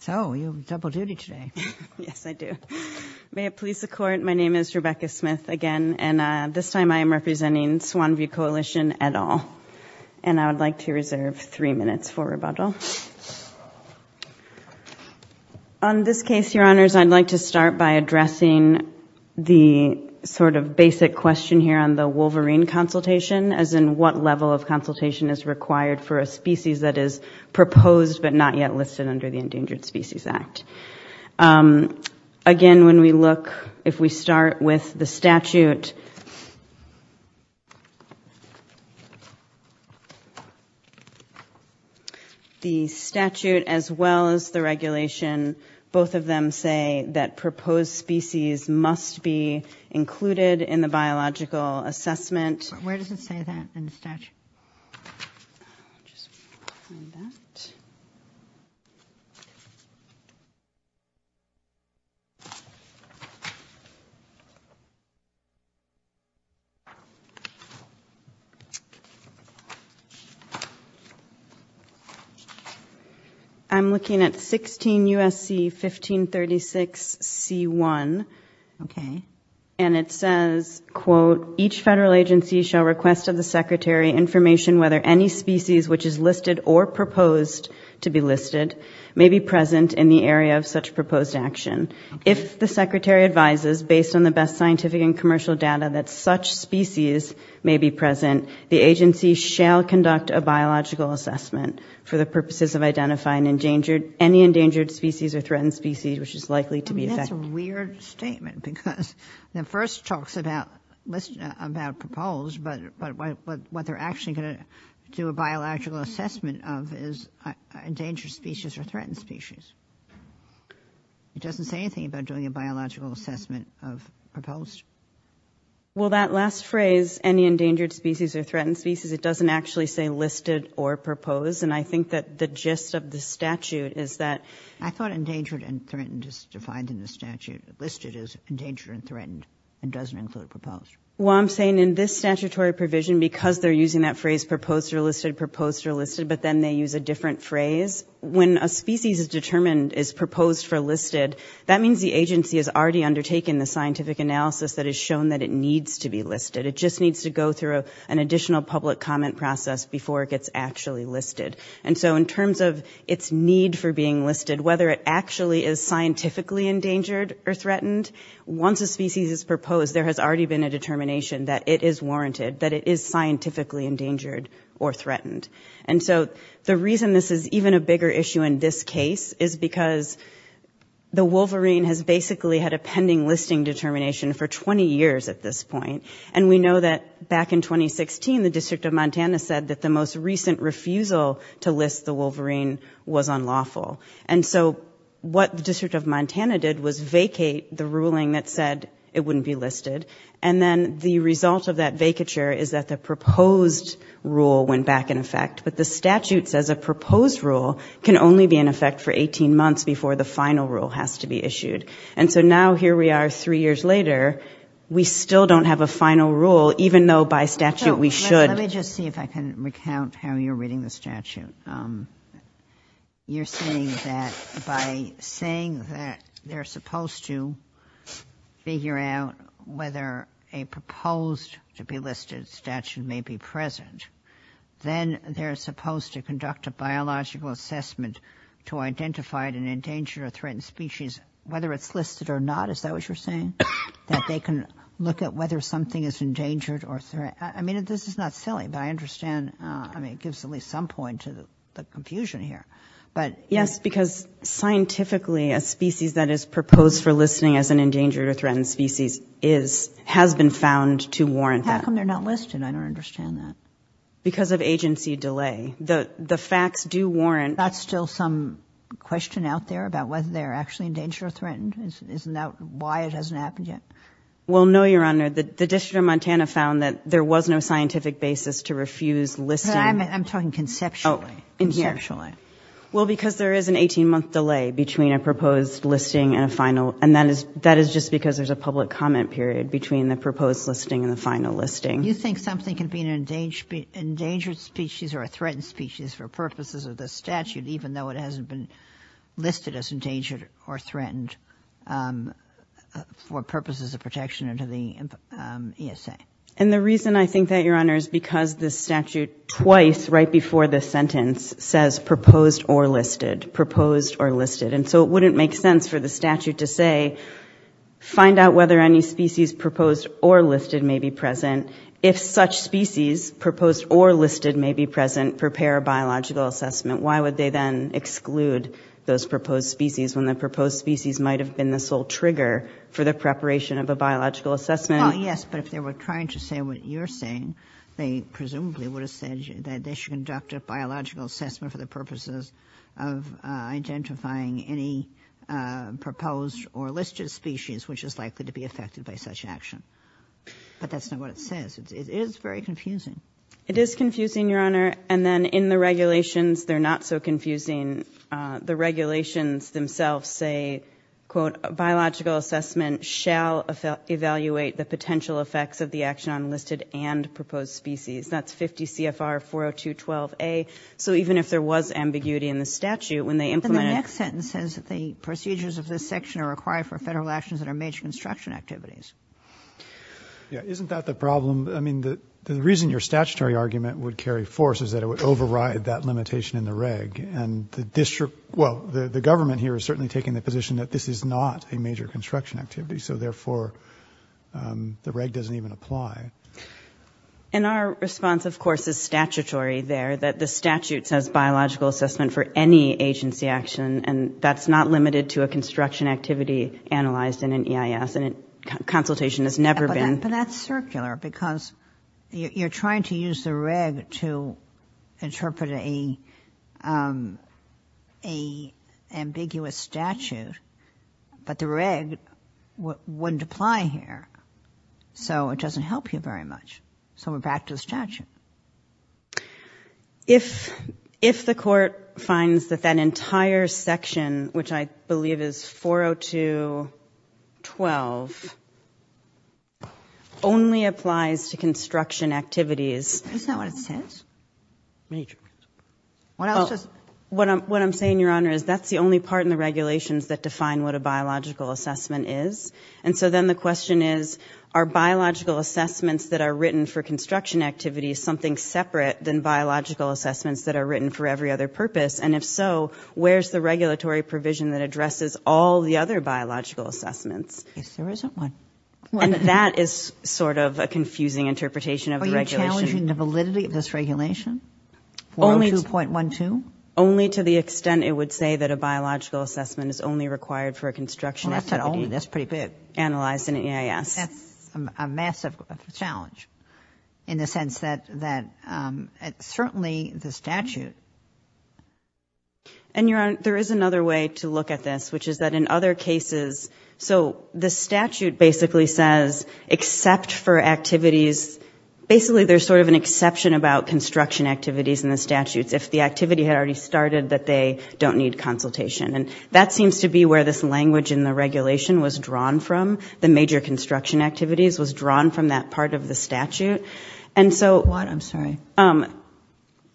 So, you have double duty today. Yes, I do. May it please the court, my name is Rebecca Smith again, and this time I am representing Swan View Coalition et al., and I would like to reserve three minutes for rebuttal. On this case, Your Honors, I'd like to start by addressing the sort of basic question here on the Wolverine consultation, as in what level of consultation is required for a not yet listed under the Endangered Species Act. Again, when we look, if we start with the statute, the statute as well as the regulation, both of them say that proposed species must be included in the biological assessment. Where does it say that in statute? I'm looking at 16 U.S.C. 1536 C1, okay, and it says, quote, each federal agency shall request of the Secretary information whether any species which is listed or proposed to be listed may be present in the area of such proposed action. If the Secretary advises, based on the best scientific and commercial data, that such species may be present, the agency shall conduct a biological assessment for the purposes of identifying any endangered species or threatened species which is likely to be affected. That's a weird statement because the first talks about proposed, but what they're actually going to do a biological assessment of is endangered species or threatened species. It doesn't say anything about doing a biological assessment of proposed. Well, that last phrase, any endangered species or threatened species, it doesn't actually say listed or proposed, and I think that the gist of the statute is that... I thought endangered and threatened is defined in the statute. Listed is endangered and threatened and doesn't include proposed. Well, I'm saying in this statutory provision, because they're using that phrase proposed or listed, proposed or listed, but then they use a different phrase. When a species is determined, is proposed for listed, that means the agency has already undertaken the scientific analysis that has shown that it needs to be listed. It just needs to go through an additional public comment process before it gets actually listed, and so in terms of its need for being listed, whether it actually is scientifically endangered or threatened, once a species is proposed, there has already been a determination that it is warranted, that it is scientifically endangered or threatened, and so the reason this is even a bigger issue in this case is because the wolverine has basically had a pending listing determination for 20 years at this point, and we know that back in 2016, the District of Montana said that the most what the District of Montana did was vacate the ruling that said it wouldn't be listed, and then the result of that vacature is that the proposed rule went back in effect, but the statute says a proposed rule can only be in effect for 18 months before the final rule has to be issued, and so now here we are three years later, we still don't have a final rule, even though by statute we should. Let me just see if I can recount how you're reading the statute. You're saying that by saying that they're supposed to figure out whether a proposed to be listed statute may be present, then they're supposed to conduct a biological assessment to identify an endangered or threatened species, whether it's listed or not, is that what you're saying? That they can look at whether something is listed or not? That's not silly, but I understand, I mean, it gives at least some point to the confusion here, but... Yes, because scientifically, a species that is proposed for listing as an endangered or threatened species has been found to warrant that. How come they're not listed? I don't understand that. Because of agency delay. The facts do warrant... That's still some question out there about whether they're actually endangered or threatened? Isn't that why it hasn't happened yet? Well, no, Your Honor. The District of Montana found that there was no scientific basis to refuse listing... I'm talking conceptually. Oh, in here. Conceptually. Well, because there is an 18-month delay between a proposed listing and a final, and that is just because there's a public comment period between the proposed listing and the final listing. You think something can be an endangered species or a threatened species for purposes of the statute, even though it hasn't been listed as endangered or threatened for purposes of protection under the ESA? And the reason I think that, Your Honor, is because the statute twice right before the sentence says proposed or listed, proposed or listed. And so it wouldn't make sense for the statute to say, find out whether any species proposed or listed may be present. If such species proposed or listed may be present, prepare a biological assessment. Why would they then exclude those proposed species when the proposed species might have been the sole trigger for the preparation of a biological assessment? Well, yes, but if they were trying to say what you're saying, they presumably would have said that they should conduct a biological assessment for the purposes of identifying any proposed or listed species which is likely to be affected by such action. But that's not what it says. It is very confusing. It is confusing, Your Honor. And then in the regulations, they're not so confusing. The regulations themselves say, quote, biological assessment shall evaluate the potential effects of the action on listed and proposed species. That's 50 CFR 40212A. So even if there was ambiguity in the statute, when they implemented And the next sentence says that the procedures of this section are required for federal actions that are major construction activities. Yeah. Isn't that the problem? I mean, the reason your statutory argument would carry force is that it would override that limitation in the reg. And the district, well, the government here is certainly taking the position that this is not a major construction activity. So therefore, the reg doesn't even apply. And our response, of course, is statutory there, that the statute says biological assessment for any agency action. And that's not limited to a construction activity analyzed in an EIS. And consultation has never been. But that's circular because you're trying to use the reg to interpret a ambiguous statute. But the reg wouldn't apply here. So it doesn't help you very much. So we're back to the statute. If the court finds that that entire section, which I believe is 40212, only applies to construction activities... Isn't that what it says? Major. What else does... What I'm saying, Your Honor, is that's the only part in the regulations that define what a biological assessment is. And so then the question is, are biological assessments that are written for construction activities something separate than biological assessments that are written for every other purpose? And if so, where's the regulatory provision that addresses all the other biological assessments? I guess there isn't one. And that is sort of a confusing interpretation of the regulation. Are you challenging the validity of this regulation, 402.12? Only to the extent it would say that a biological assessment is only required for a construction activity... Well, that's pretty big.... analyzed in EIS. That's a massive challenge in the sense that certainly the statute... And Your Honor, there is another way to look at this, which is that in other cases... so the statute basically says, except for activities... basically there's sort of an exception about construction activities in the statutes. If the activity had already started, that they don't need consultation. And that seems to be where this language in the regulation was drawn from. The major construction activities was drawn from that part of the statute. And so... What? I'm sorry.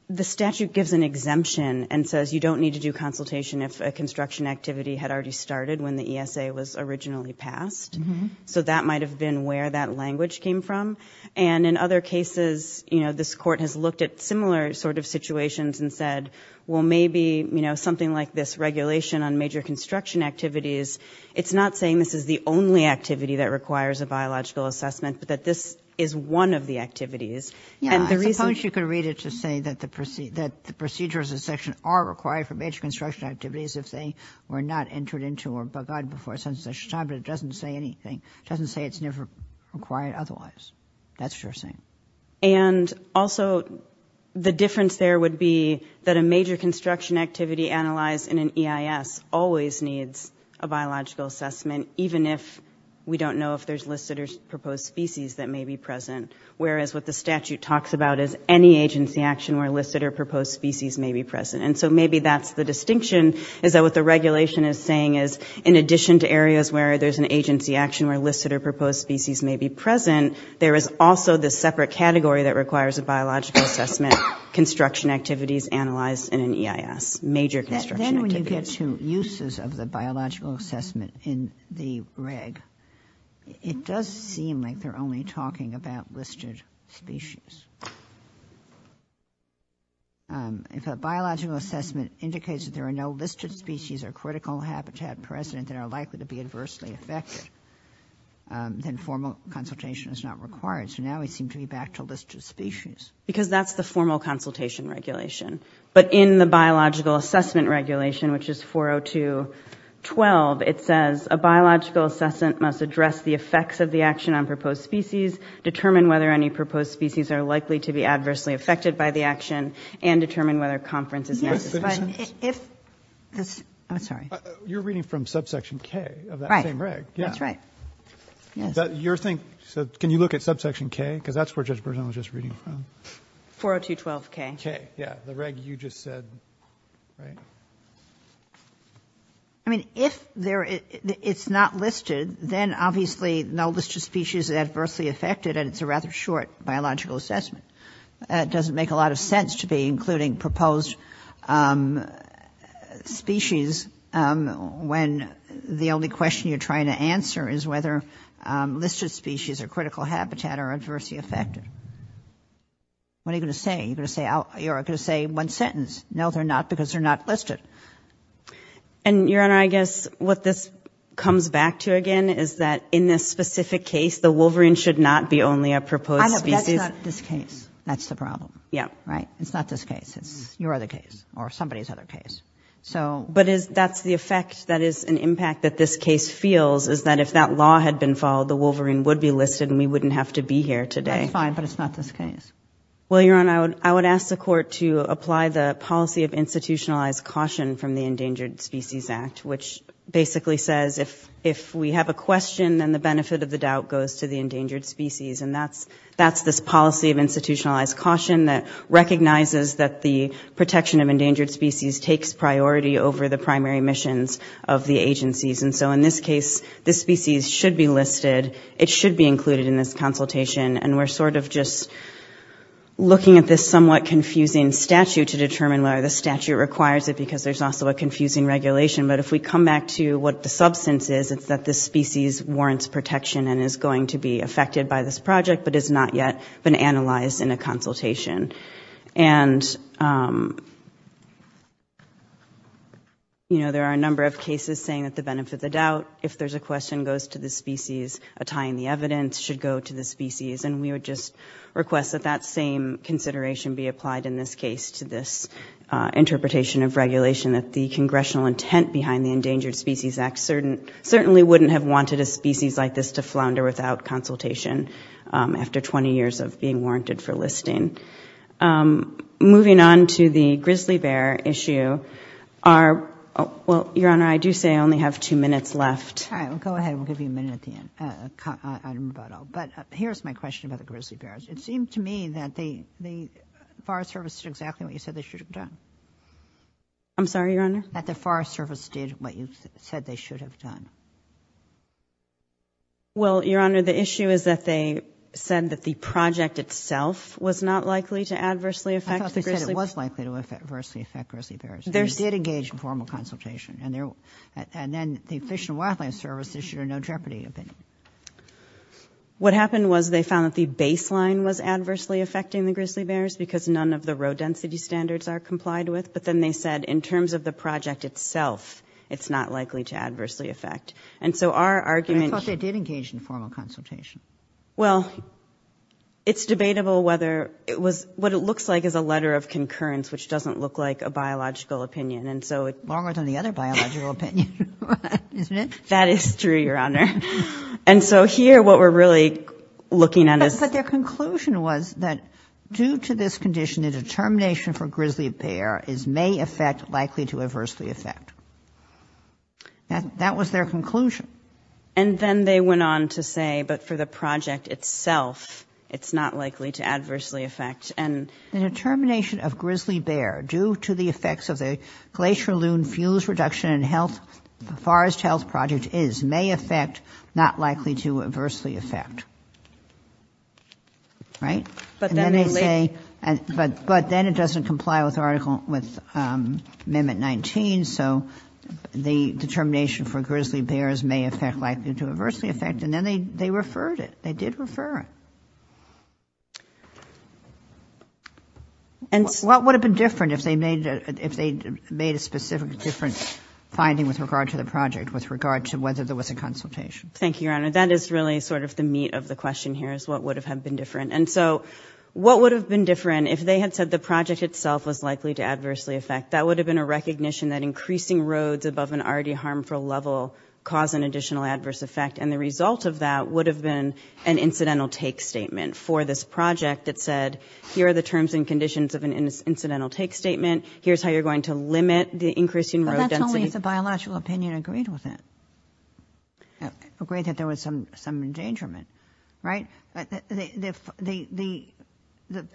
The statute gives an exemption and says you don't need to do consultation if a construction activity had already started when the ESA was originally passed. So that might have been where that language came from. And in other cases, you know, this Court has looked at similar sort of situations and said, well, maybe, you know, something like this regulation on major construction activities, it's not saying this is the only activity that requires a biological assessment, but that this is one of the activities. And the reason... Yeah. I suppose you could read it to say that the procedures of section are required for major construction activities if they were not entered into or bug-eyed before... but it doesn't say anything. It doesn't say it's never required otherwise. That's what you're saying. And also, the difference there would be that a major construction activity analyzed in an EIS always needs a biological assessment, even if we don't know if there's listed or proposed species that may be present, whereas what the statute talks about is any agency action where listed or proposed species may be present. And so maybe that's the distinction, is that what the regulation is in addition to areas where there's an agency action where listed or proposed species may be present, there is also this separate category that requires a biological assessment, construction activities analyzed in an EIS, major construction activities. Then when you get to uses of the biological assessment in the reg, it does seem like they're only talking about listed species. If a biological assessment indicates that there are no listed species or critical habitat present that are likely to be adversely affected, then formal consultation is not required. So now we seem to be back to listed species. Because that's the formal consultation regulation. But in the biological assessment regulation, which is 402.12, it says a biological assessment must address the effects of the action on proposed species, determine whether any proposed species are likely to be adversely affected by the action, and determine whether conference is necessary. But if this, I'm sorry. You're reading from subsection K of that same reg. Right. That's right. Your thing, can you look at subsection K? Because that's where Judge Bernstein was just reading from. 402.12K. K. Yeah. The reg you just said. Right. I mean, if it's not listed, then obviously no listed species are adversely affected and it's a rather short biological assessment. It doesn't make a lot of sense to be including proposed species when the only question you're trying to answer is whether listed species or critical habitat are adversely affected. What are you going to say? You're going to say one sentence. No, they're not because they're not listed. And, Your Honor, I guess what this comes back to again is that in this specific case, the wolverine should not be only a proposed species. That's not this case. That's the problem. Yeah. Right? It's not this case. It's your other case or somebody's other case. But that's the effect, that is an impact that this case feels is that if that law had been followed, the wolverine would be listed and we wouldn't have to be here today. That's fine, but it's not this case. Well, Your Honor, I would ask the court to apply the policy of institutionalized caution from the Endangered Species Act, which basically says if we have a that's this policy of institutionalized caution that recognizes that the protection of endangered species takes priority over the primary missions of the agencies. And so in this case, this species should be listed. It should be included in this consultation. And we're sort of just looking at this somewhat confusing statute to determine whether the statute requires it because there's also a confusing regulation. But if we come back to what the substance is, it's that this species warrants protection and is going to be affected by this project but is not yet been analyzed in a consultation. And you know, there are a number of cases saying that the benefit of the doubt, if there's a question goes to the species, a tie in the evidence should go to the species. And we would just request that that same consideration be applied in this case to this interpretation of regulation that the congressional intent behind the Endangered Species Act certainly wouldn't have wanted a species like this to flounder without consultation after 20 years of being warranted for listing. Moving on to the grizzly bear issue, well, Your Honor, I do say I only have two minutes left. All right. Go ahead. We'll give you a minute at the end. I don't know about all. But here's my question about the grizzly bears. It seemed to me that the Forest Service did exactly what you said they should have done. I'm sorry, Your Honor? That the Forest Service did what you said they should have done. Well, Your Honor, the issue is that they said that the project itself was not likely to adversely affect the grizzly bears. I thought they said it was likely to adversely affect grizzly bears. They did engage in formal consultation. And then the Fish and Wildlife Service issued a no jeopardy opinion. What happened was they found that the baseline was adversely affecting the grizzly bears because none of the road density standards are complied with. But then they said in terms of the project itself, it's not likely to adversely affect. And so our argument – I thought they did engage in formal consultation. Well, it's debatable whether it was – what it looks like is a letter of concurrence, which doesn't look like a biological opinion. And so – Longer than the other biological opinion, isn't it? That is true, Your Honor. And so here what we're really looking at is – But their conclusion was that due to this condition, the determination for grizzly bear is may affect, likely to adversely affect. That was their conclusion. And then they went on to say, but for the project itself, it's not likely to adversely affect. And – The determination of grizzly bear due to the effects of the Glacier Loon Fuse Reduction and Forest Health Project is may affect, not likely to adversely affect. Right? But then it – And then they say – But then it doesn't comply with Article – with Amendment 19. So the determination for grizzly bear is may affect, likely to adversely affect. And then they referred it. They did refer it. And so – What would have been different if they made a – if they made a specific different finding with regard to the project, with regard to whether there was a consultation? Thank you, Your Honor. That is really sort of the meat of the question here, is what would have been different. And so what would have been different if they had said the project itself was likely to adversely affect? That would have been a recognition that increasing roads above an already harmful level caused an additional adverse effect. And the result of that would have been an incidental take statement for this project that said, here are the terms and conditions of an incidental take statement. Here's how you're going to limit the increasing road density. But that's only if the biological opinion agreed with it, agreed that there was some endangerment. Right? But the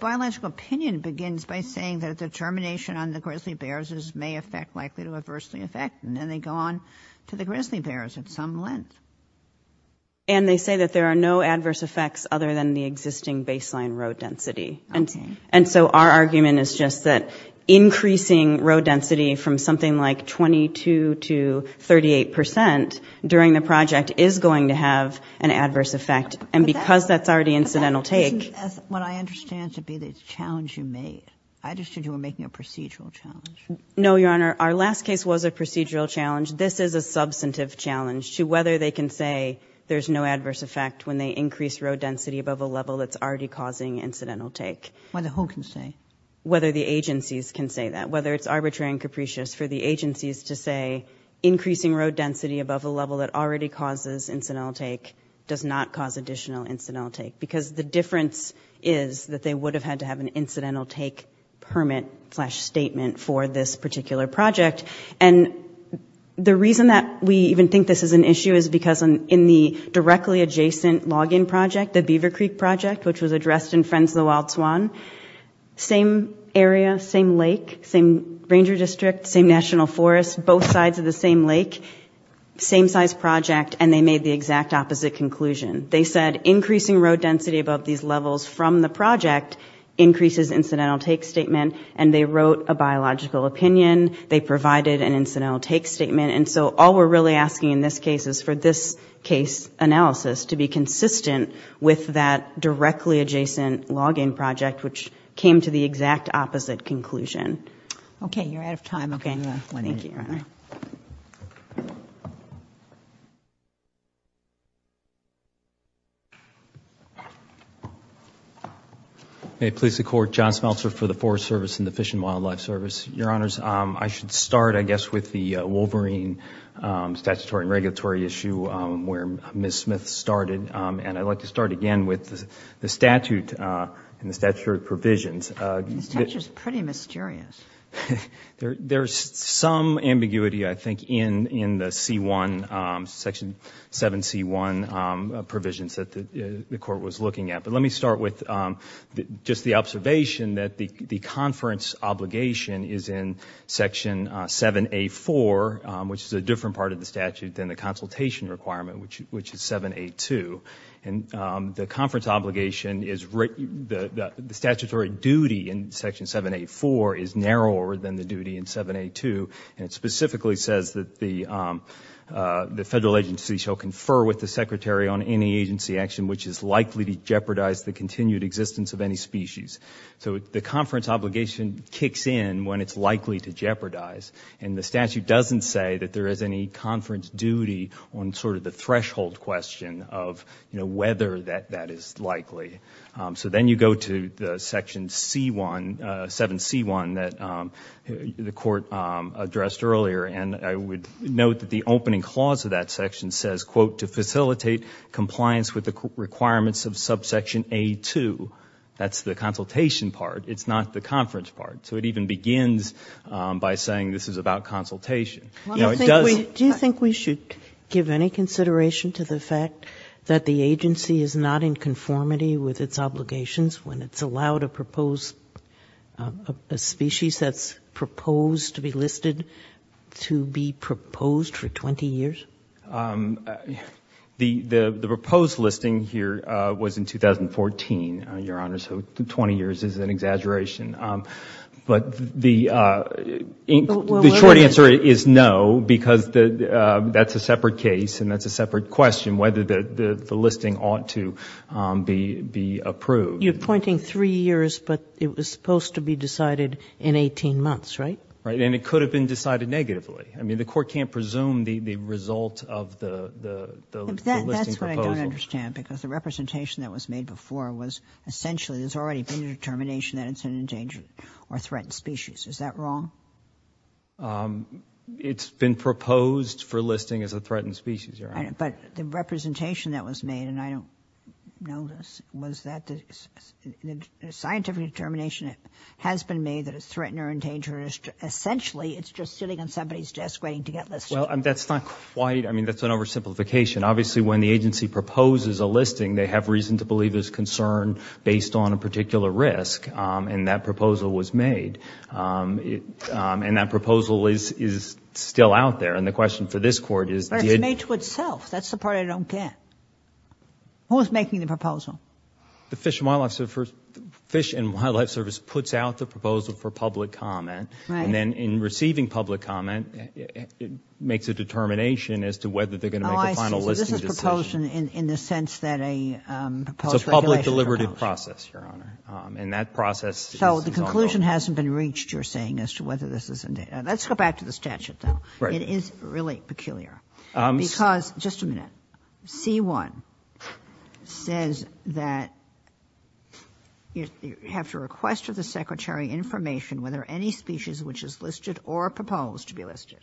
biological opinion begins by saying that a determination on the grizzly bears is – may affect, likely to adversely affect, and then they go on to the grizzly bears at some length. And they say that there are no adverse effects other than the existing baseline road density. And so our argument is just that increasing road density from something like 22 to 38 percent during the project is going to have an adverse effect. And because that's already incidental take – But that doesn't, as what I understand to be, the challenge you made. I understood you were making a procedural challenge. No, Your Honor. Our last case was a procedural challenge. This is a substantive challenge to whether they can say there's no adverse effect when they increase road density above a level that's already causing incidental take. Whether who can say? Whether the agencies can say that. Whether it's arbitrary and capricious for the agencies to say increasing road density above a level that already causes incidental take does not cause additional incidental take. Because the difference is that they would have had to have an incidental take permit slash statement for this particular project. And the reason that we even think this is an issue is because in the directly adjacent log-in project, the Beaver Creek project, which was addressed in Friends of the Wild Swan – same area, same lake, same ranger district, same national forest, both sides of the same lake, same size project – and they made the exact opposite conclusion. They said increasing road density above these levels from the project increases incidental take statement, and they wrote a biological opinion. They provided an incidental take statement. And so all we're really asking in this case is for this case analysis to be consistent with that directly adjacent log-in project, which came to the exact opposite conclusion. Okay. You're out of time. Okay. Thank you. May it please the Court. John Smeltzer for the Forest Service and the Fish and Wildlife Service. Your Honors, I should start, I guess, with the Wolverine statutory and regulatory issue where Ms. Smith started. And I'd like to start again with the statute and the statutory provisions. The statute is pretty mysterious. There's some ambiguity, I think, in the C-1, Section 7C-1 provisions that the Court was looking at. But let me start with just the observation that the conference obligation is in Section 7A-4, which is a different part of the statute than the consultation requirement, which is 7A-2. And the conference obligation is the statutory duty in Section 7A-4 is narrower than the duty in 7A-2. And it specifically says that the Federal agency shall confer with the Secretary on any agency action which is likely to jeopardize the continued existence of any species. So the conference obligation kicks in when it's likely to jeopardize. And the statute doesn't say that there is any conference duty on sort of the threshold question of whether that is likely. So then you go to the Section 7C-1 that the Court addressed earlier. And I would note that the opening clause of that section says, quote, to facilitate compliance with the requirements of Subsection A-2. That's the consultation part. It's not the conference part. So it even begins by saying this is about consultation. You know, it does. Do you think we should give any consideration to the fact that the agency is not in conformity with its obligations when it's allowed to propose a species that's proposed to be listed to be proposed for 20 years? The proposed listing here was in 2014, Your Honor, so 20 years is an exaggeration. But the short answer is no, because that's a separate case and that's a separate question, whether the listing ought to be approved. You're pointing three years, but it was supposed to be decided in 18 months, right? Right, and it could have been decided negatively. I mean, the Court can't presume the result of the listing proposal. That's what I don't understand, because the representation that was made before was essentially that there's already been a determination that it's an endangered or threatened species. Is that wrong? It's been proposed for listing as a threatened species, Your Honor. But the representation that was made, and I don't know this, was that the scientific determination has been made that it's threatened or endangered, essentially it's just sitting on somebody's desk waiting to get listed. Well, that's not quite, I mean, that's an oversimplification. Obviously, when the agency proposes a listing, they have reason to believe there's concern based on a particular risk, and that proposal was made. And that proposal is still out there. And the question for this Court is, did— But it's made to itself. That's the part I don't get. Who's making the proposal? The Fish and Wildlife Service puts out the proposal for public comment, and then in receiving public comment, it makes a determination as to whether they're going to make a final listing decision. Oh, I see. So this is proposed in the sense that a proposed regulation— It's a process, Your Honor. And that process is— So the conclusion hasn't been reached, you're saying, as to whether this is—let's go back to the statute, though. Right. It is really peculiar. Because, just a minute, C-1 says that you have to request of the Secretary information whether any species which is listed or proposed to be listed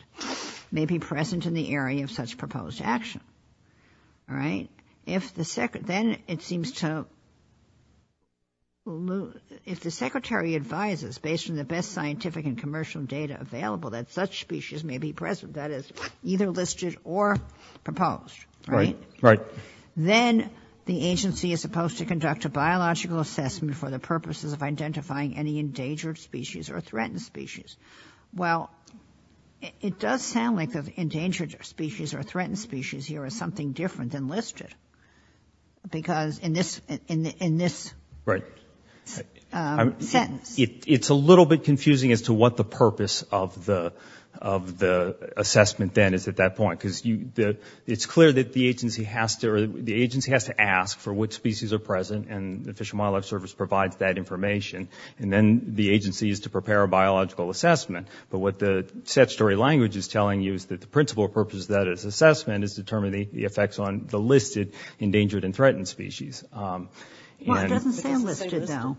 may be present in the area of such proposed action, all right? If the—then it seems to—if the Secretary advises, based on the best scientific and commercial data available, that such species may be present, that is, either listed or proposed, right? Right. Then the agency is supposed to conduct a biological assessment for the purposes of identifying any endangered species or threatened species. Well, it does sound like the endangered species or threatened species here is something different than listed. Because in this— Right. Sentence. It's a little bit confusing as to what the purpose of the—of the assessment then is at that point. Because you—it's clear that the agency has to—or the agency has to ask for which species are present, and the Fish and Wildlife Service provides that information. And then the agency is to prepare a biological assessment. But what the statutory language is telling you is that the principal purpose of that assessment is to determine the effects on the listed endangered and threatened species. And— Well, it doesn't say listed, though.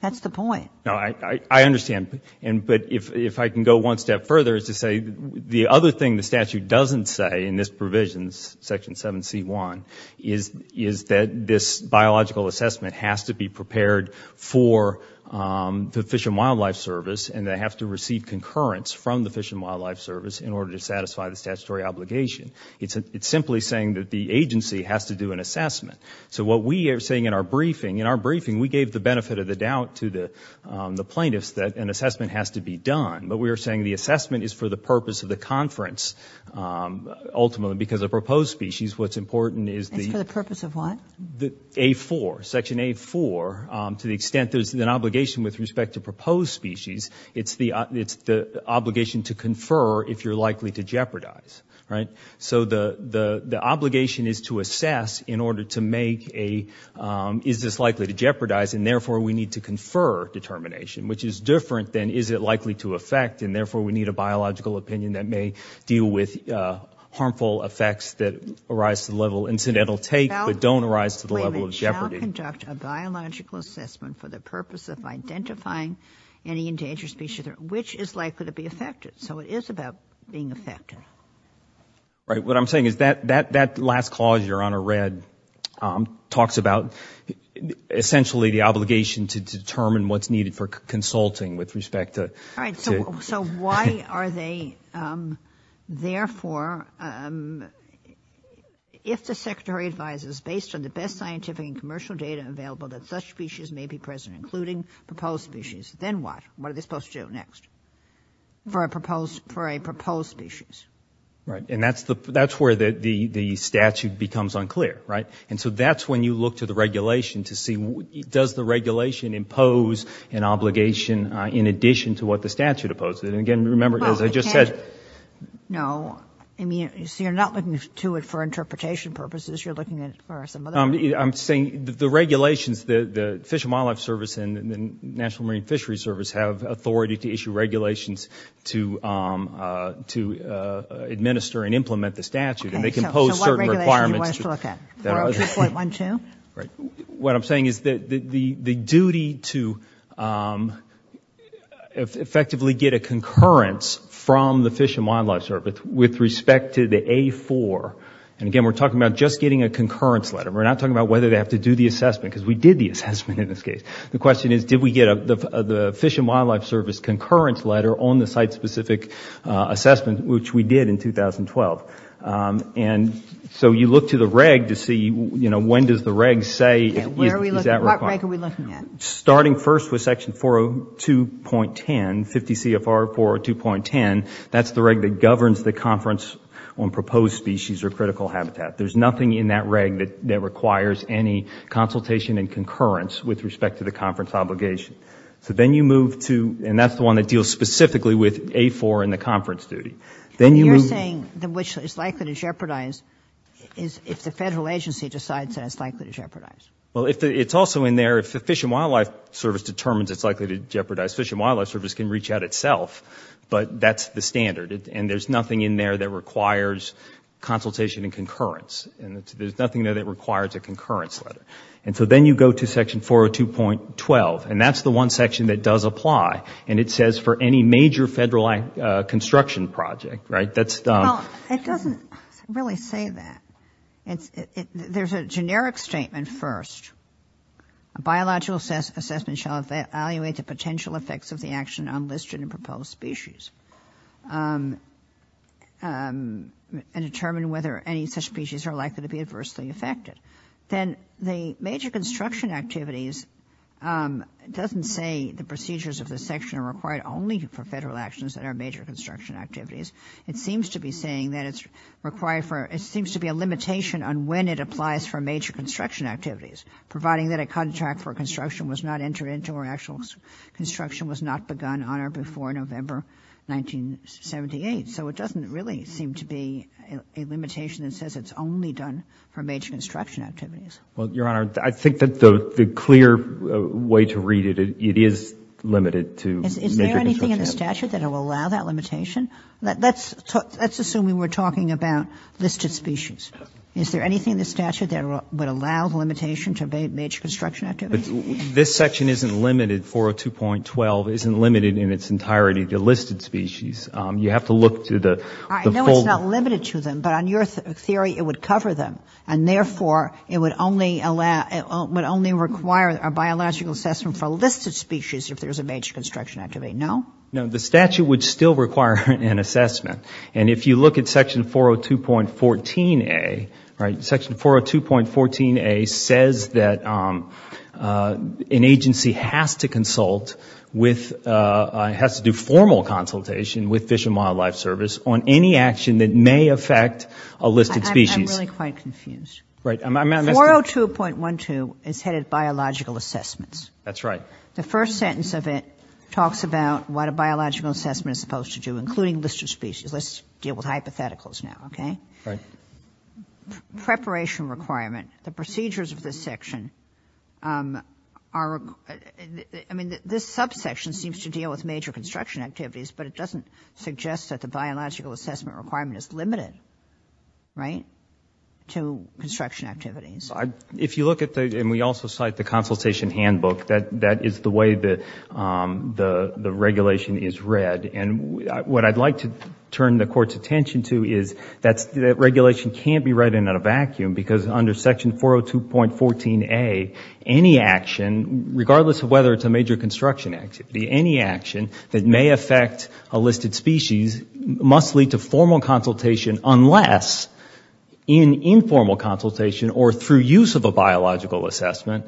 That's the point. No, I understand. And—but if I can go one step further, is to say the other thing the statute doesn't say in this provision, Section 7c1, is—is that this biological assessment has to be prepared for the Fish and Wildlife Service, and they have to receive concurrence from the Fish and Wildlife Service in order to satisfy the statutory obligation. It's simply saying that the agency has to do an assessment. So what we are saying in our briefing—in our briefing, we gave the benefit of the doubt to the plaintiffs that an assessment has to be done, but we are saying the assessment is for the purpose of the conference, ultimately, because a proposed species, what's important is the— It's for the purpose of what? The A4, Section A4, to the extent there's an obligation with respect to proposed species, it's the obligation to confer if you're likely to jeopardize, right? So the obligation is to assess in order to make a—is this likely to jeopardize, and therefore, we need to confer determination, which is different than is it likely to affect, and therefore, we need a biological opinion that may deal with harmful effects that arise to the level incidental take, but don't arise to the level of jeopardy. We now conduct a biological assessment for the purpose of identifying any endangered species which is likely to be affected. So it is about being effective. Right. What I'm saying is that last clause, Your Honor, read, talks about essentially the obligation to determine what's needed for consulting with respect to— All right. So why are they—therefore, if the Secretary advises, based on the best scientific and commercial data available, that such species may be present, including proposed species, then what? What are they supposed to do next for a proposed species? Right. And that's where the statute becomes unclear, right? And so that's when you look to the regulation to see, does the regulation impose an obligation in addition to what the statute opposes? And again, remember, as I just said— No. I mean, so you're not looking to it for interpretation purposes. You're looking at some other— I'm saying the regulations, the Fish and Wildlife Service and the National Marine Fishery Service have authority to issue regulations to administer and implement the statute, and they can impose certain requirements— Okay. So what regulation do you want us to look at? 402.12? Right. What I'm saying is that the duty to effectively get a concurrence from the Fish and Wildlife Service with respect to the A4—and again, we're talking about just getting a concurrence letter. We're not talking about whether they have to do the assessment, because we did the assessment in this case. The question is, did we get the Fish and Wildlife Service concurrence letter on the site-specific assessment, which we did in 2012? And so you look to the reg to see, you know, when does the reg say— What reg are we looking at? Starting first with section 402.10, 50 CFR 402.10, that's the reg that governs the conference on proposed species or critical habitat. There's nothing in that reg that requires any consultation and concurrence with respect to the conference obligation. So then you move to—and that's the one that deals specifically with A4 and the conference duty. Then you move— You're saying which is likely to jeopardize if the federal agency decides that it's likely to jeopardize. Well, it's also in there, if the Fish and Wildlife Service determines it's likely to jeopardize, Fish and Wildlife Service can reach out itself, but that's the standard. And there's nothing in there that requires consultation and concurrence. There's nothing in there that requires a concurrence letter. And so then you go to section 402.12, and that's the one section that does apply. And it says for any major federal construction project, right? That's— Well, it doesn't really say that. There's a generic statement first, a biological assessment shall evaluate the potential effects of the action on listed and proposed species and determine whether any such species are likely to be adversely affected. Then the major construction activities doesn't say the procedures of the section are required only for federal actions that are major construction activities. It seems to be saying that it's required for—it seems to be a limitation on when it applies for major construction activities, providing that a contract for construction was not entered into or actual construction was not begun on or before November 1978. So it doesn't really seem to be a limitation that says it's only done for major construction activities. Well, Your Honor, I think that the clear way to read it, it is limited to major construction activities. Is there anything in the statute that will allow that limitation? Let's assume we were talking about listed species. Is there anything in the statute that would allow the limitation to major construction activities? This section isn't limited, 402.12 isn't limited in its entirety to listed species. You have to look to the— I know it's not limited to them, but on your theory, it would cover them, and therefore, it would only require a biological assessment for listed species if there's a major construction activity, no? No, the statute would still require an assessment. And if you look at section 402.14a, section 402.14a says that an agency has to consult with—has to do formal consultation with Fish and Wildlife Service on any action that may affect a listed species. I'm really quite confused. Right. I'm— 402.12 is headed biological assessments. That's right. The first sentence of it talks about what a biological assessment is supposed to do, including listed species. Let's deal with hypotheticals now, okay? Right. Preparation requirement. The procedures of this section are—I mean, this subsection seems to deal with major construction activities, but it doesn't suggest that the biological assessment requirement is limited, right, to construction activities. If you look at the—and we also cite the consultation handbook. That is the way the regulation is read. And what I'd like to turn the Court's attention to is that regulation can't be read in a vacuum, because under section 402.14a, any action, regardless of whether it's a major construction activity, any action that may affect a listed species must lead to formal consultation unless, in informal consultation or through use of a biological assessment,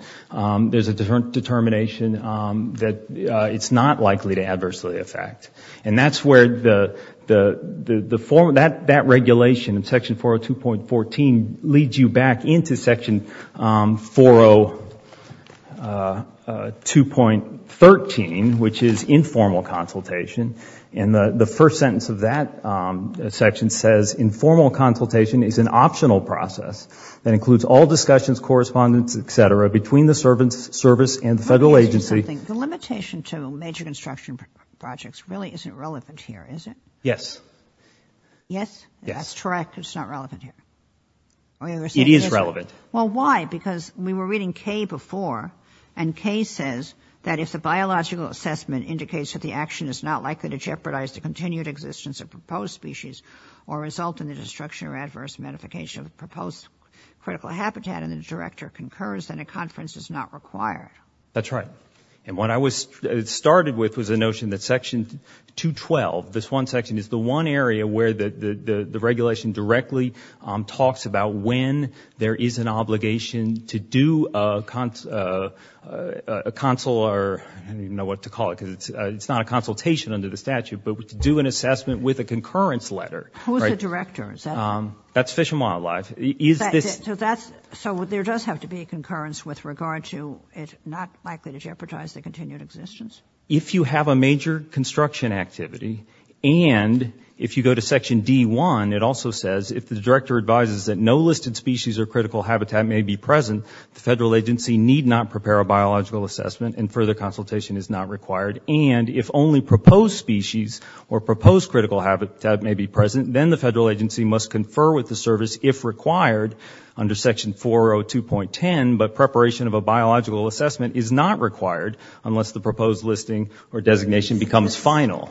there's a determination that it's not likely to adversely affect. And that's where that regulation in section 402.14 leads you back into section 402.13, which is informal consultation. And the first sentence of that section says, informal consultation is an optional process that includes all discussions, correspondence, et cetera, between the service and the Federal Agency. The limitation to major construction projects really isn't relevant here, is it? Yes. Yes? Yes. That's correct. It's not relevant here. It is relevant. Well, why? Because we were reading Kay before, and Kay says that if the biological assessment indicates that the action is not likely to jeopardize the continued existence of proposed species or result in the destruction or adverse modification of the proposed critical habitat and the director concurs, then a conference is not required. That's right. And what I started with was the notion that section 212, this one section, is the one area where the regulation directly talks about when there is an obligation to do a consular or I don't even know what to call it, because it's not a consultation under the statute, but to do an assessment with a concurrence letter. Who's the director? Is that? That's Fish and Wildlife. Is this? So there does have to be a concurrence with regard to it not likely to jeopardize the continued existence? If you have a major construction activity and if you go to section D1, it also says if the director advises that no listed species or critical habitat may be present, the federal agency need not prepare a biological assessment and further consultation is not required. And if only proposed species or proposed critical habitat may be present, then the federal agency must confer with the service if required under section 402.10, but preparation of a biological assessment is not required unless the proposed listing or designation becomes final.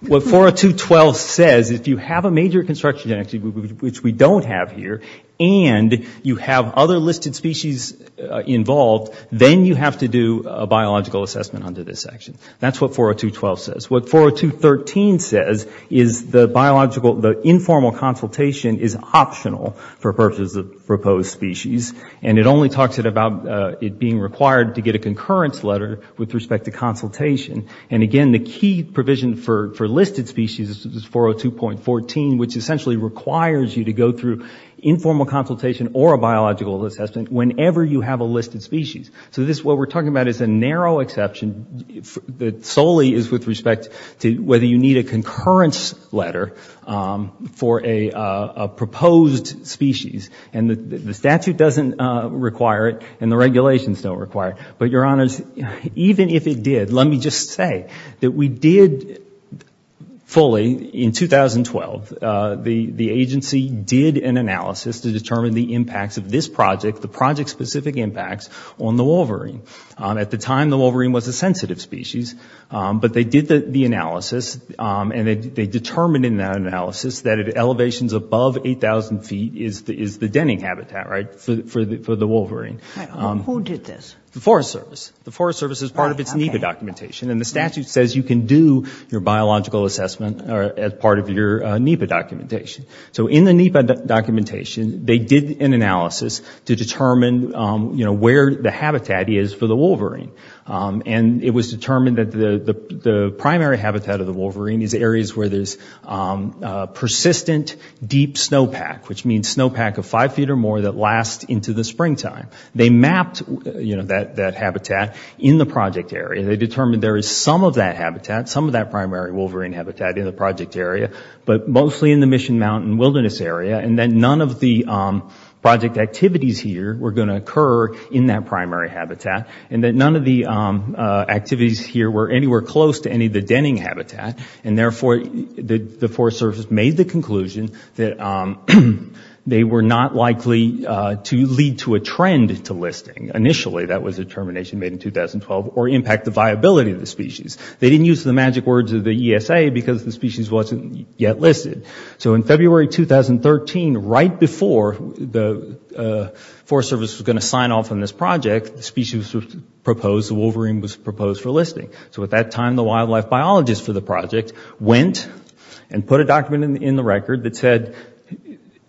What 402.12 says, if you have a major construction activity, which we don't have here, and you have other listed species involved, then you have to do a biological assessment under this section. That's what 402.12 says. What 402.13 says is the biological, the informal consultation is optional for purposes of proposed species and it only talks about it being required to get a concurrence letter with respect to consultation. And again, the key provision for listed species is 402.14, which essentially requires you to go through informal consultation or a biological assessment whenever you have a listed species. So this, what we're talking about is a narrow exception that solely is with respect to whether you need a concurrence letter for a proposed species. And the statute doesn't require it and the regulations don't require it. But your honors, even if it did, let me just say that we did fully in 2012, the agency did an analysis to determine the impacts of this project, the project-specific impacts on the wolverine. At the time, the wolverine was a sensitive species. But they did the analysis and they determined in that analysis that at elevations above 8,000 feet is the denning habitat, right, for the wolverine. Right. Who did this? The Forest Service. The Forest Service is part of its NEPA documentation and the statute says you can do your biological assessment as part of your NEPA documentation. So in the NEPA documentation, they did an analysis to determine, you know, where the habitat is for the wolverine. And it was determined that the primary habitat of the wolverine is areas where there's persistent deep snowpack, which means snowpack of five feet or more that lasts into the springtime. They mapped, you know, that habitat in the project area. They determined there is some of that habitat, some of that primary wolverine habitat in the project area, but mostly in the Mission Mountain Wilderness Area. And that none of the project activities here were going to occur in that primary habitat. And that none of the activities here were anywhere close to any of the denning habitat. And therefore, the Forest Service made the conclusion that they were not likely to lead to a trend to listing. Initially, that was a determination made in 2012, or impact the viability of the species. They didn't use the magic words of the ESA because the species wasn't yet listed. So in February 2013, right before the Forest Service was going to sign off on this project, the species was proposed, the wolverine was proposed for listing. So at that time, the wildlife biologist for the project went and put a document in the record that said,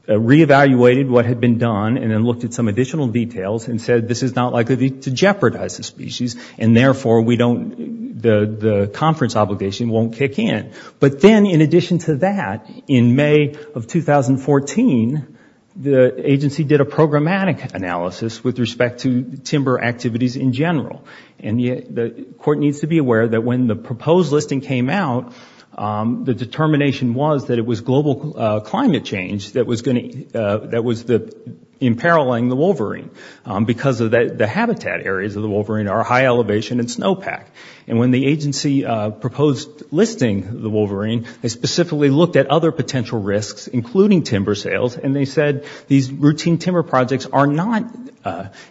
re-evaluated what had been done and then looked at some additional details and said, this is not likely to jeopardize the species. And therefore, the conference obligation won't kick in. But then, in addition to that, in May of 2014, the agency did a programmatic analysis with respect to timber activities in general. And the court needs to be aware that when the proposed listing came out, the determination was that it was global climate change that was imperiling the wolverine. Because the habitat areas of the wolverine are high elevation and snowpack. And when the agency proposed listing the wolverine, they specifically looked at other potential risks, including timber sales, and they said these routine timber projects are not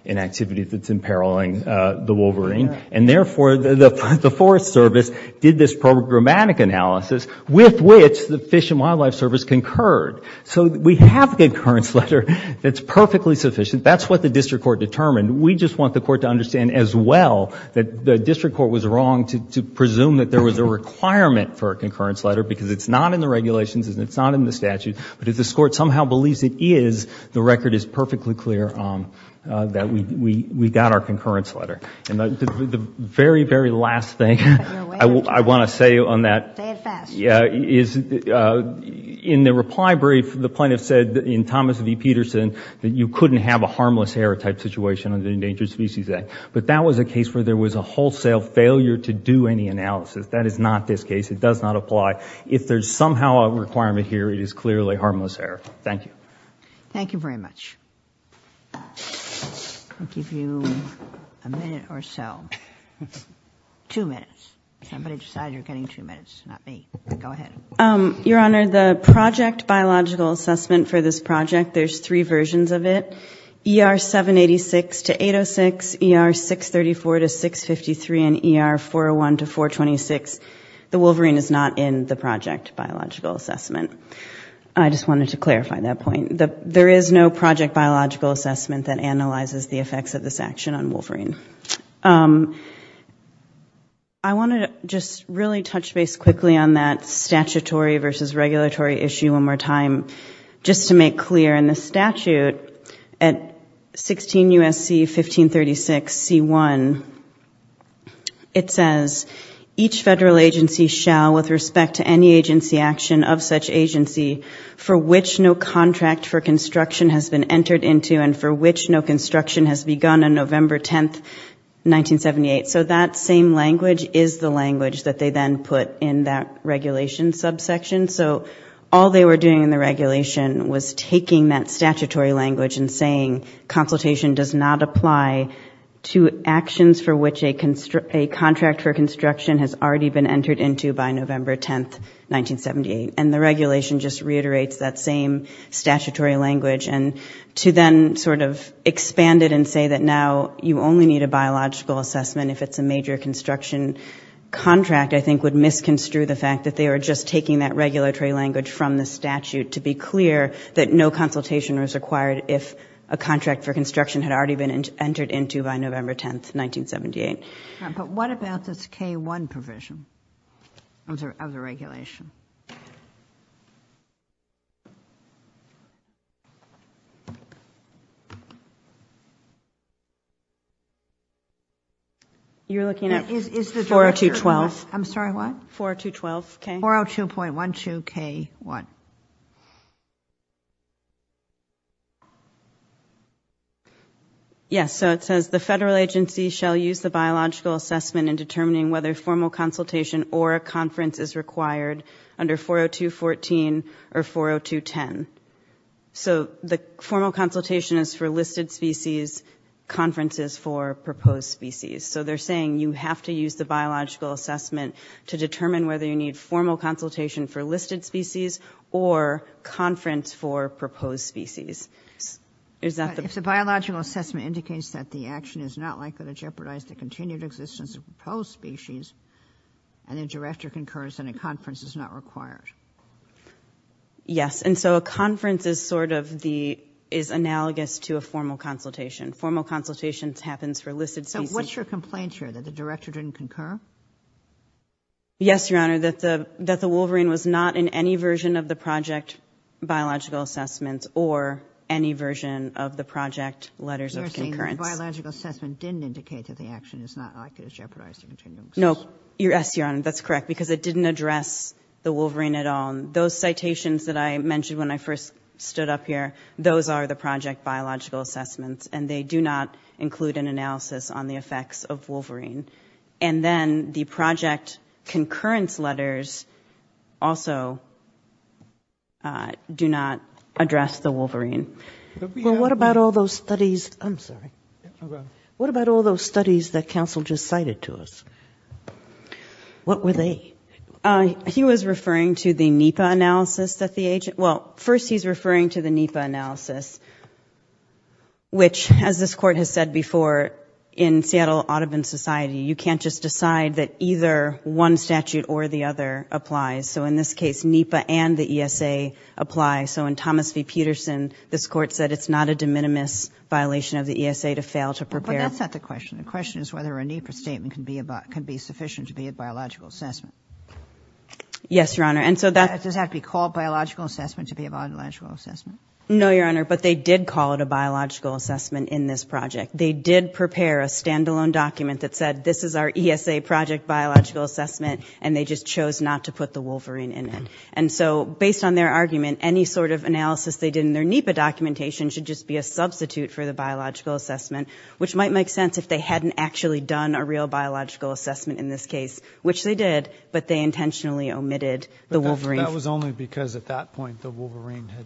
an activity that's imperiling the wolverine. And therefore, the Forest Service did this programmatic analysis with which the Fish and Wildlife Service concurred. So we have a concurrence letter that's perfectly sufficient. That's what the district court determined. We just want the court to understand as well that the district court was wrong to presume that there was a requirement for a concurrence letter because it's not in the regulations and it's not in the statute. But if this court somehow believes it is, the record is perfectly clear that we got our concurrence letter. And the very, very last thing I want to say on that is in the reply brief, the plaintiff said in Thomas V. Peterson that you couldn't have a harmless hare type situation under the Endangered Species Act. But that was a case where there was a wholesale failure to do any analysis. That is not this case. It does not apply. If there's somehow a requirement here, it is clearly harmless hare. Thank you. Thank you very much. I'll give you a minute or so. Two minutes. Somebody decided you're getting two minutes. Not me. Go ahead. Your Honor, the project biological assessment for this project, there's three versions of it. ER 786 to 806, ER 634 to 653, and ER 401 to 426. The wolverine is not in the project biological assessment. I just wanted to clarify that point. There is no project biological assessment that analyzes the effects of this action on wolverine. I want to just really touch base quickly on that statutory versus regulatory issue one more time, just to make clear in the statute, at 16 U.S.C. 1536 C1, it says, each federal agency shall, with respect to any agency action of such agency, for which no contract for construction has been entered into and for which no construction has begun on November 10th, 1978. So that same language is the language that they then put in that regulation subsection. So all they were doing in the regulation was taking that statutory language and saying consultation does not apply to actions for which a contract for construction has already been entered into by November 10th, 1978. And the regulation just reiterates that same statutory language. To then sort of expand it and say that now you only need a biological assessment if it's a major construction contract, I think, would misconstrue the fact that they were just taking that regulatory language from the statute to be clear that no consultation was required if a contract for construction had already been entered into by November 10th, 1978. But what about this K-1 provision of the regulation? You're looking at 402.12, I'm sorry, what? 402.12 K-1. 402.12 K-1. Yes, so it says the federal agency shall use the biological assessment in determining whether formal consultation or a conference is required under 402.14 or 402.10. So the formal consultation is for listed species, conferences for proposed species. So they're saying you have to use the biological assessment to determine whether you need formal consultation for listed species or conference for proposed species. Is that the... But if the biological assessment indicates that the action is not likely to jeopardize the continued existence of proposed species, and the director concurs, then a conference is not required. Yes. And so a conference is sort of the, is analogous to a formal consultation. Formal consultation happens for listed species. So what's your complaint here, that the director didn't concur? Yes, Your Honor, that the, that the wolverine was not in any version of the project biological assessments or any version of the project letters of concurrence. You're saying the biological assessment didn't indicate that the action is not likely to jeopardize the continued existence. No. Yes, Your Honor, that's correct because it didn't address the wolverine at all. Those citations that I mentioned when I first stood up here, those are the project biological assessments and they do not include an analysis on the effects of wolverine. And then the project concurrence letters also do not address the wolverine. But we have... Well, what about all those studies? I'm sorry. Go ahead. What about all those studies that counsel just cited to us? What were they? He was referring to the NEPA analysis that the agent... Well, first he's referring to the NEPA analysis, which as this court has said before in Seattle Audubon Society, you can't just decide that either one statute or the other applies. So in this case, NEPA and the ESA apply. So in Thomas v. Peterson, this court said it's not a de minimis violation of the ESA to fail to prepare... But that's not the question. The question is whether a NEPA statement can be sufficient to be a biological assessment. Yes, Your Honor. And so that... Does that have to be called biological assessment to be a biological assessment? No, Your Honor, but they did call it a biological assessment in this project. They did prepare a standalone document that said, this is our ESA project biological assessment, and they just chose not to put the Wolverine in it. And so based on their argument, any sort of analysis they did in their NEPA documentation should just be a substitute for the biological assessment, which might make sense if they hadn't actually done a real biological assessment in this case, which they did, but they intentionally omitted the Wolverine. That was only because at that point the Wolverine had...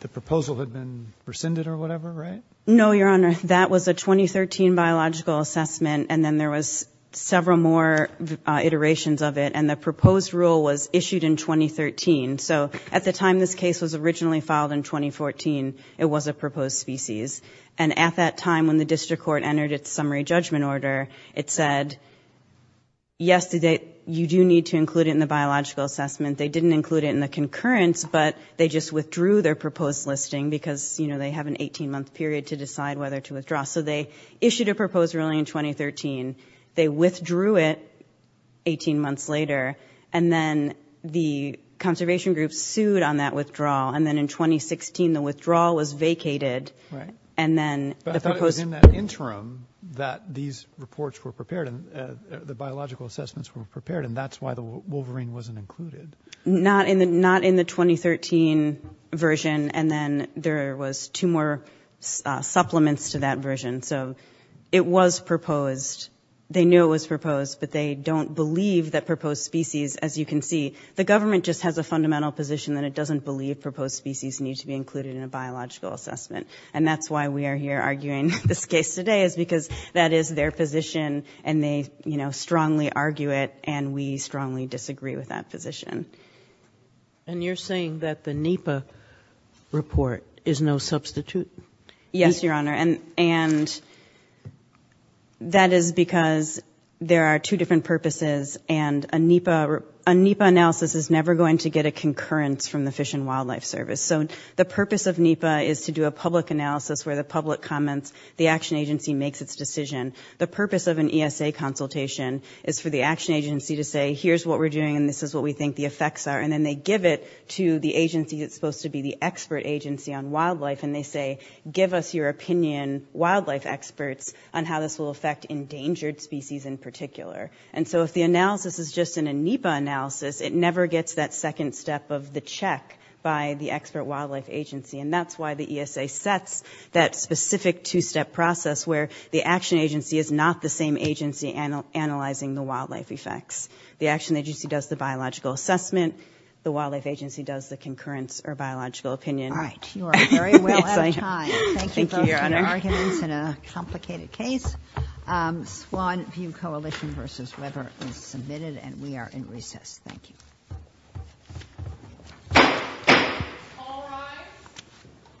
The proposal had been rescinded or whatever, right? No, Your Honor. That was a 2013 biological assessment, and then there was several more iterations of it. And the proposed rule was issued in 2013. So at the time this case was originally filed in 2014, it was a proposed species. And at that time when the district court entered its summary judgment order, it said, yes, you do need to include it in the biological assessment. They didn't include it in the concurrence, but they just withdrew their proposed listing because they have an 18-month period to decide whether to withdraw. So they issued a proposed ruling in 2013. They withdrew it 18 months later, and then the conservation group sued on that withdrawal. And then in 2016, the withdrawal was vacated. Right. But I thought it was in that interim that these reports were prepared and the biological assessments were prepared, and that's why the Wolverine wasn't included. Not in the 2013 version. And then there was two more supplements to that version. So it was proposed. They knew it was proposed, but they don't believe that proposed species, as you can see, the government just has a fundamental position that it doesn't believe proposed species need to be included in a biological assessment. And that's why we are here arguing this case today is because that is their position, and they strongly argue it, and we strongly disagree with that position. And you're saying that the NEPA report is no substitute? Yes, Your Honor. And that is because there are two different purposes, and a NEPA analysis is never going to get a concurrence from the Fish and Wildlife Service. So the purpose of NEPA is to do a public analysis where the public comments, the action agency makes its decision. The purpose of an ESA consultation is for the action agency to say, here's what we're doing, and this is what we think the effects are, and then they give it to the agency that's supposed to be the expert agency on wildlife, and they say, give us your opinion, wildlife experts, on how this will affect endangered species in particular. And so if the analysis is just an NEPA analysis, it never gets that second step of the check by the expert wildlife agency, and that's why the ESA sets that specific two-step process where the action agency is not the same agency analyzing the wildlife effects. The action agency does the biological assessment, the wildlife agency does the concurrence or biological opinion. All right. You are very well on time. Thank you both for your arguments in a complicated case. Swan View Coalition v. Weber is submitted, and we are in recess. Thank you. All rise.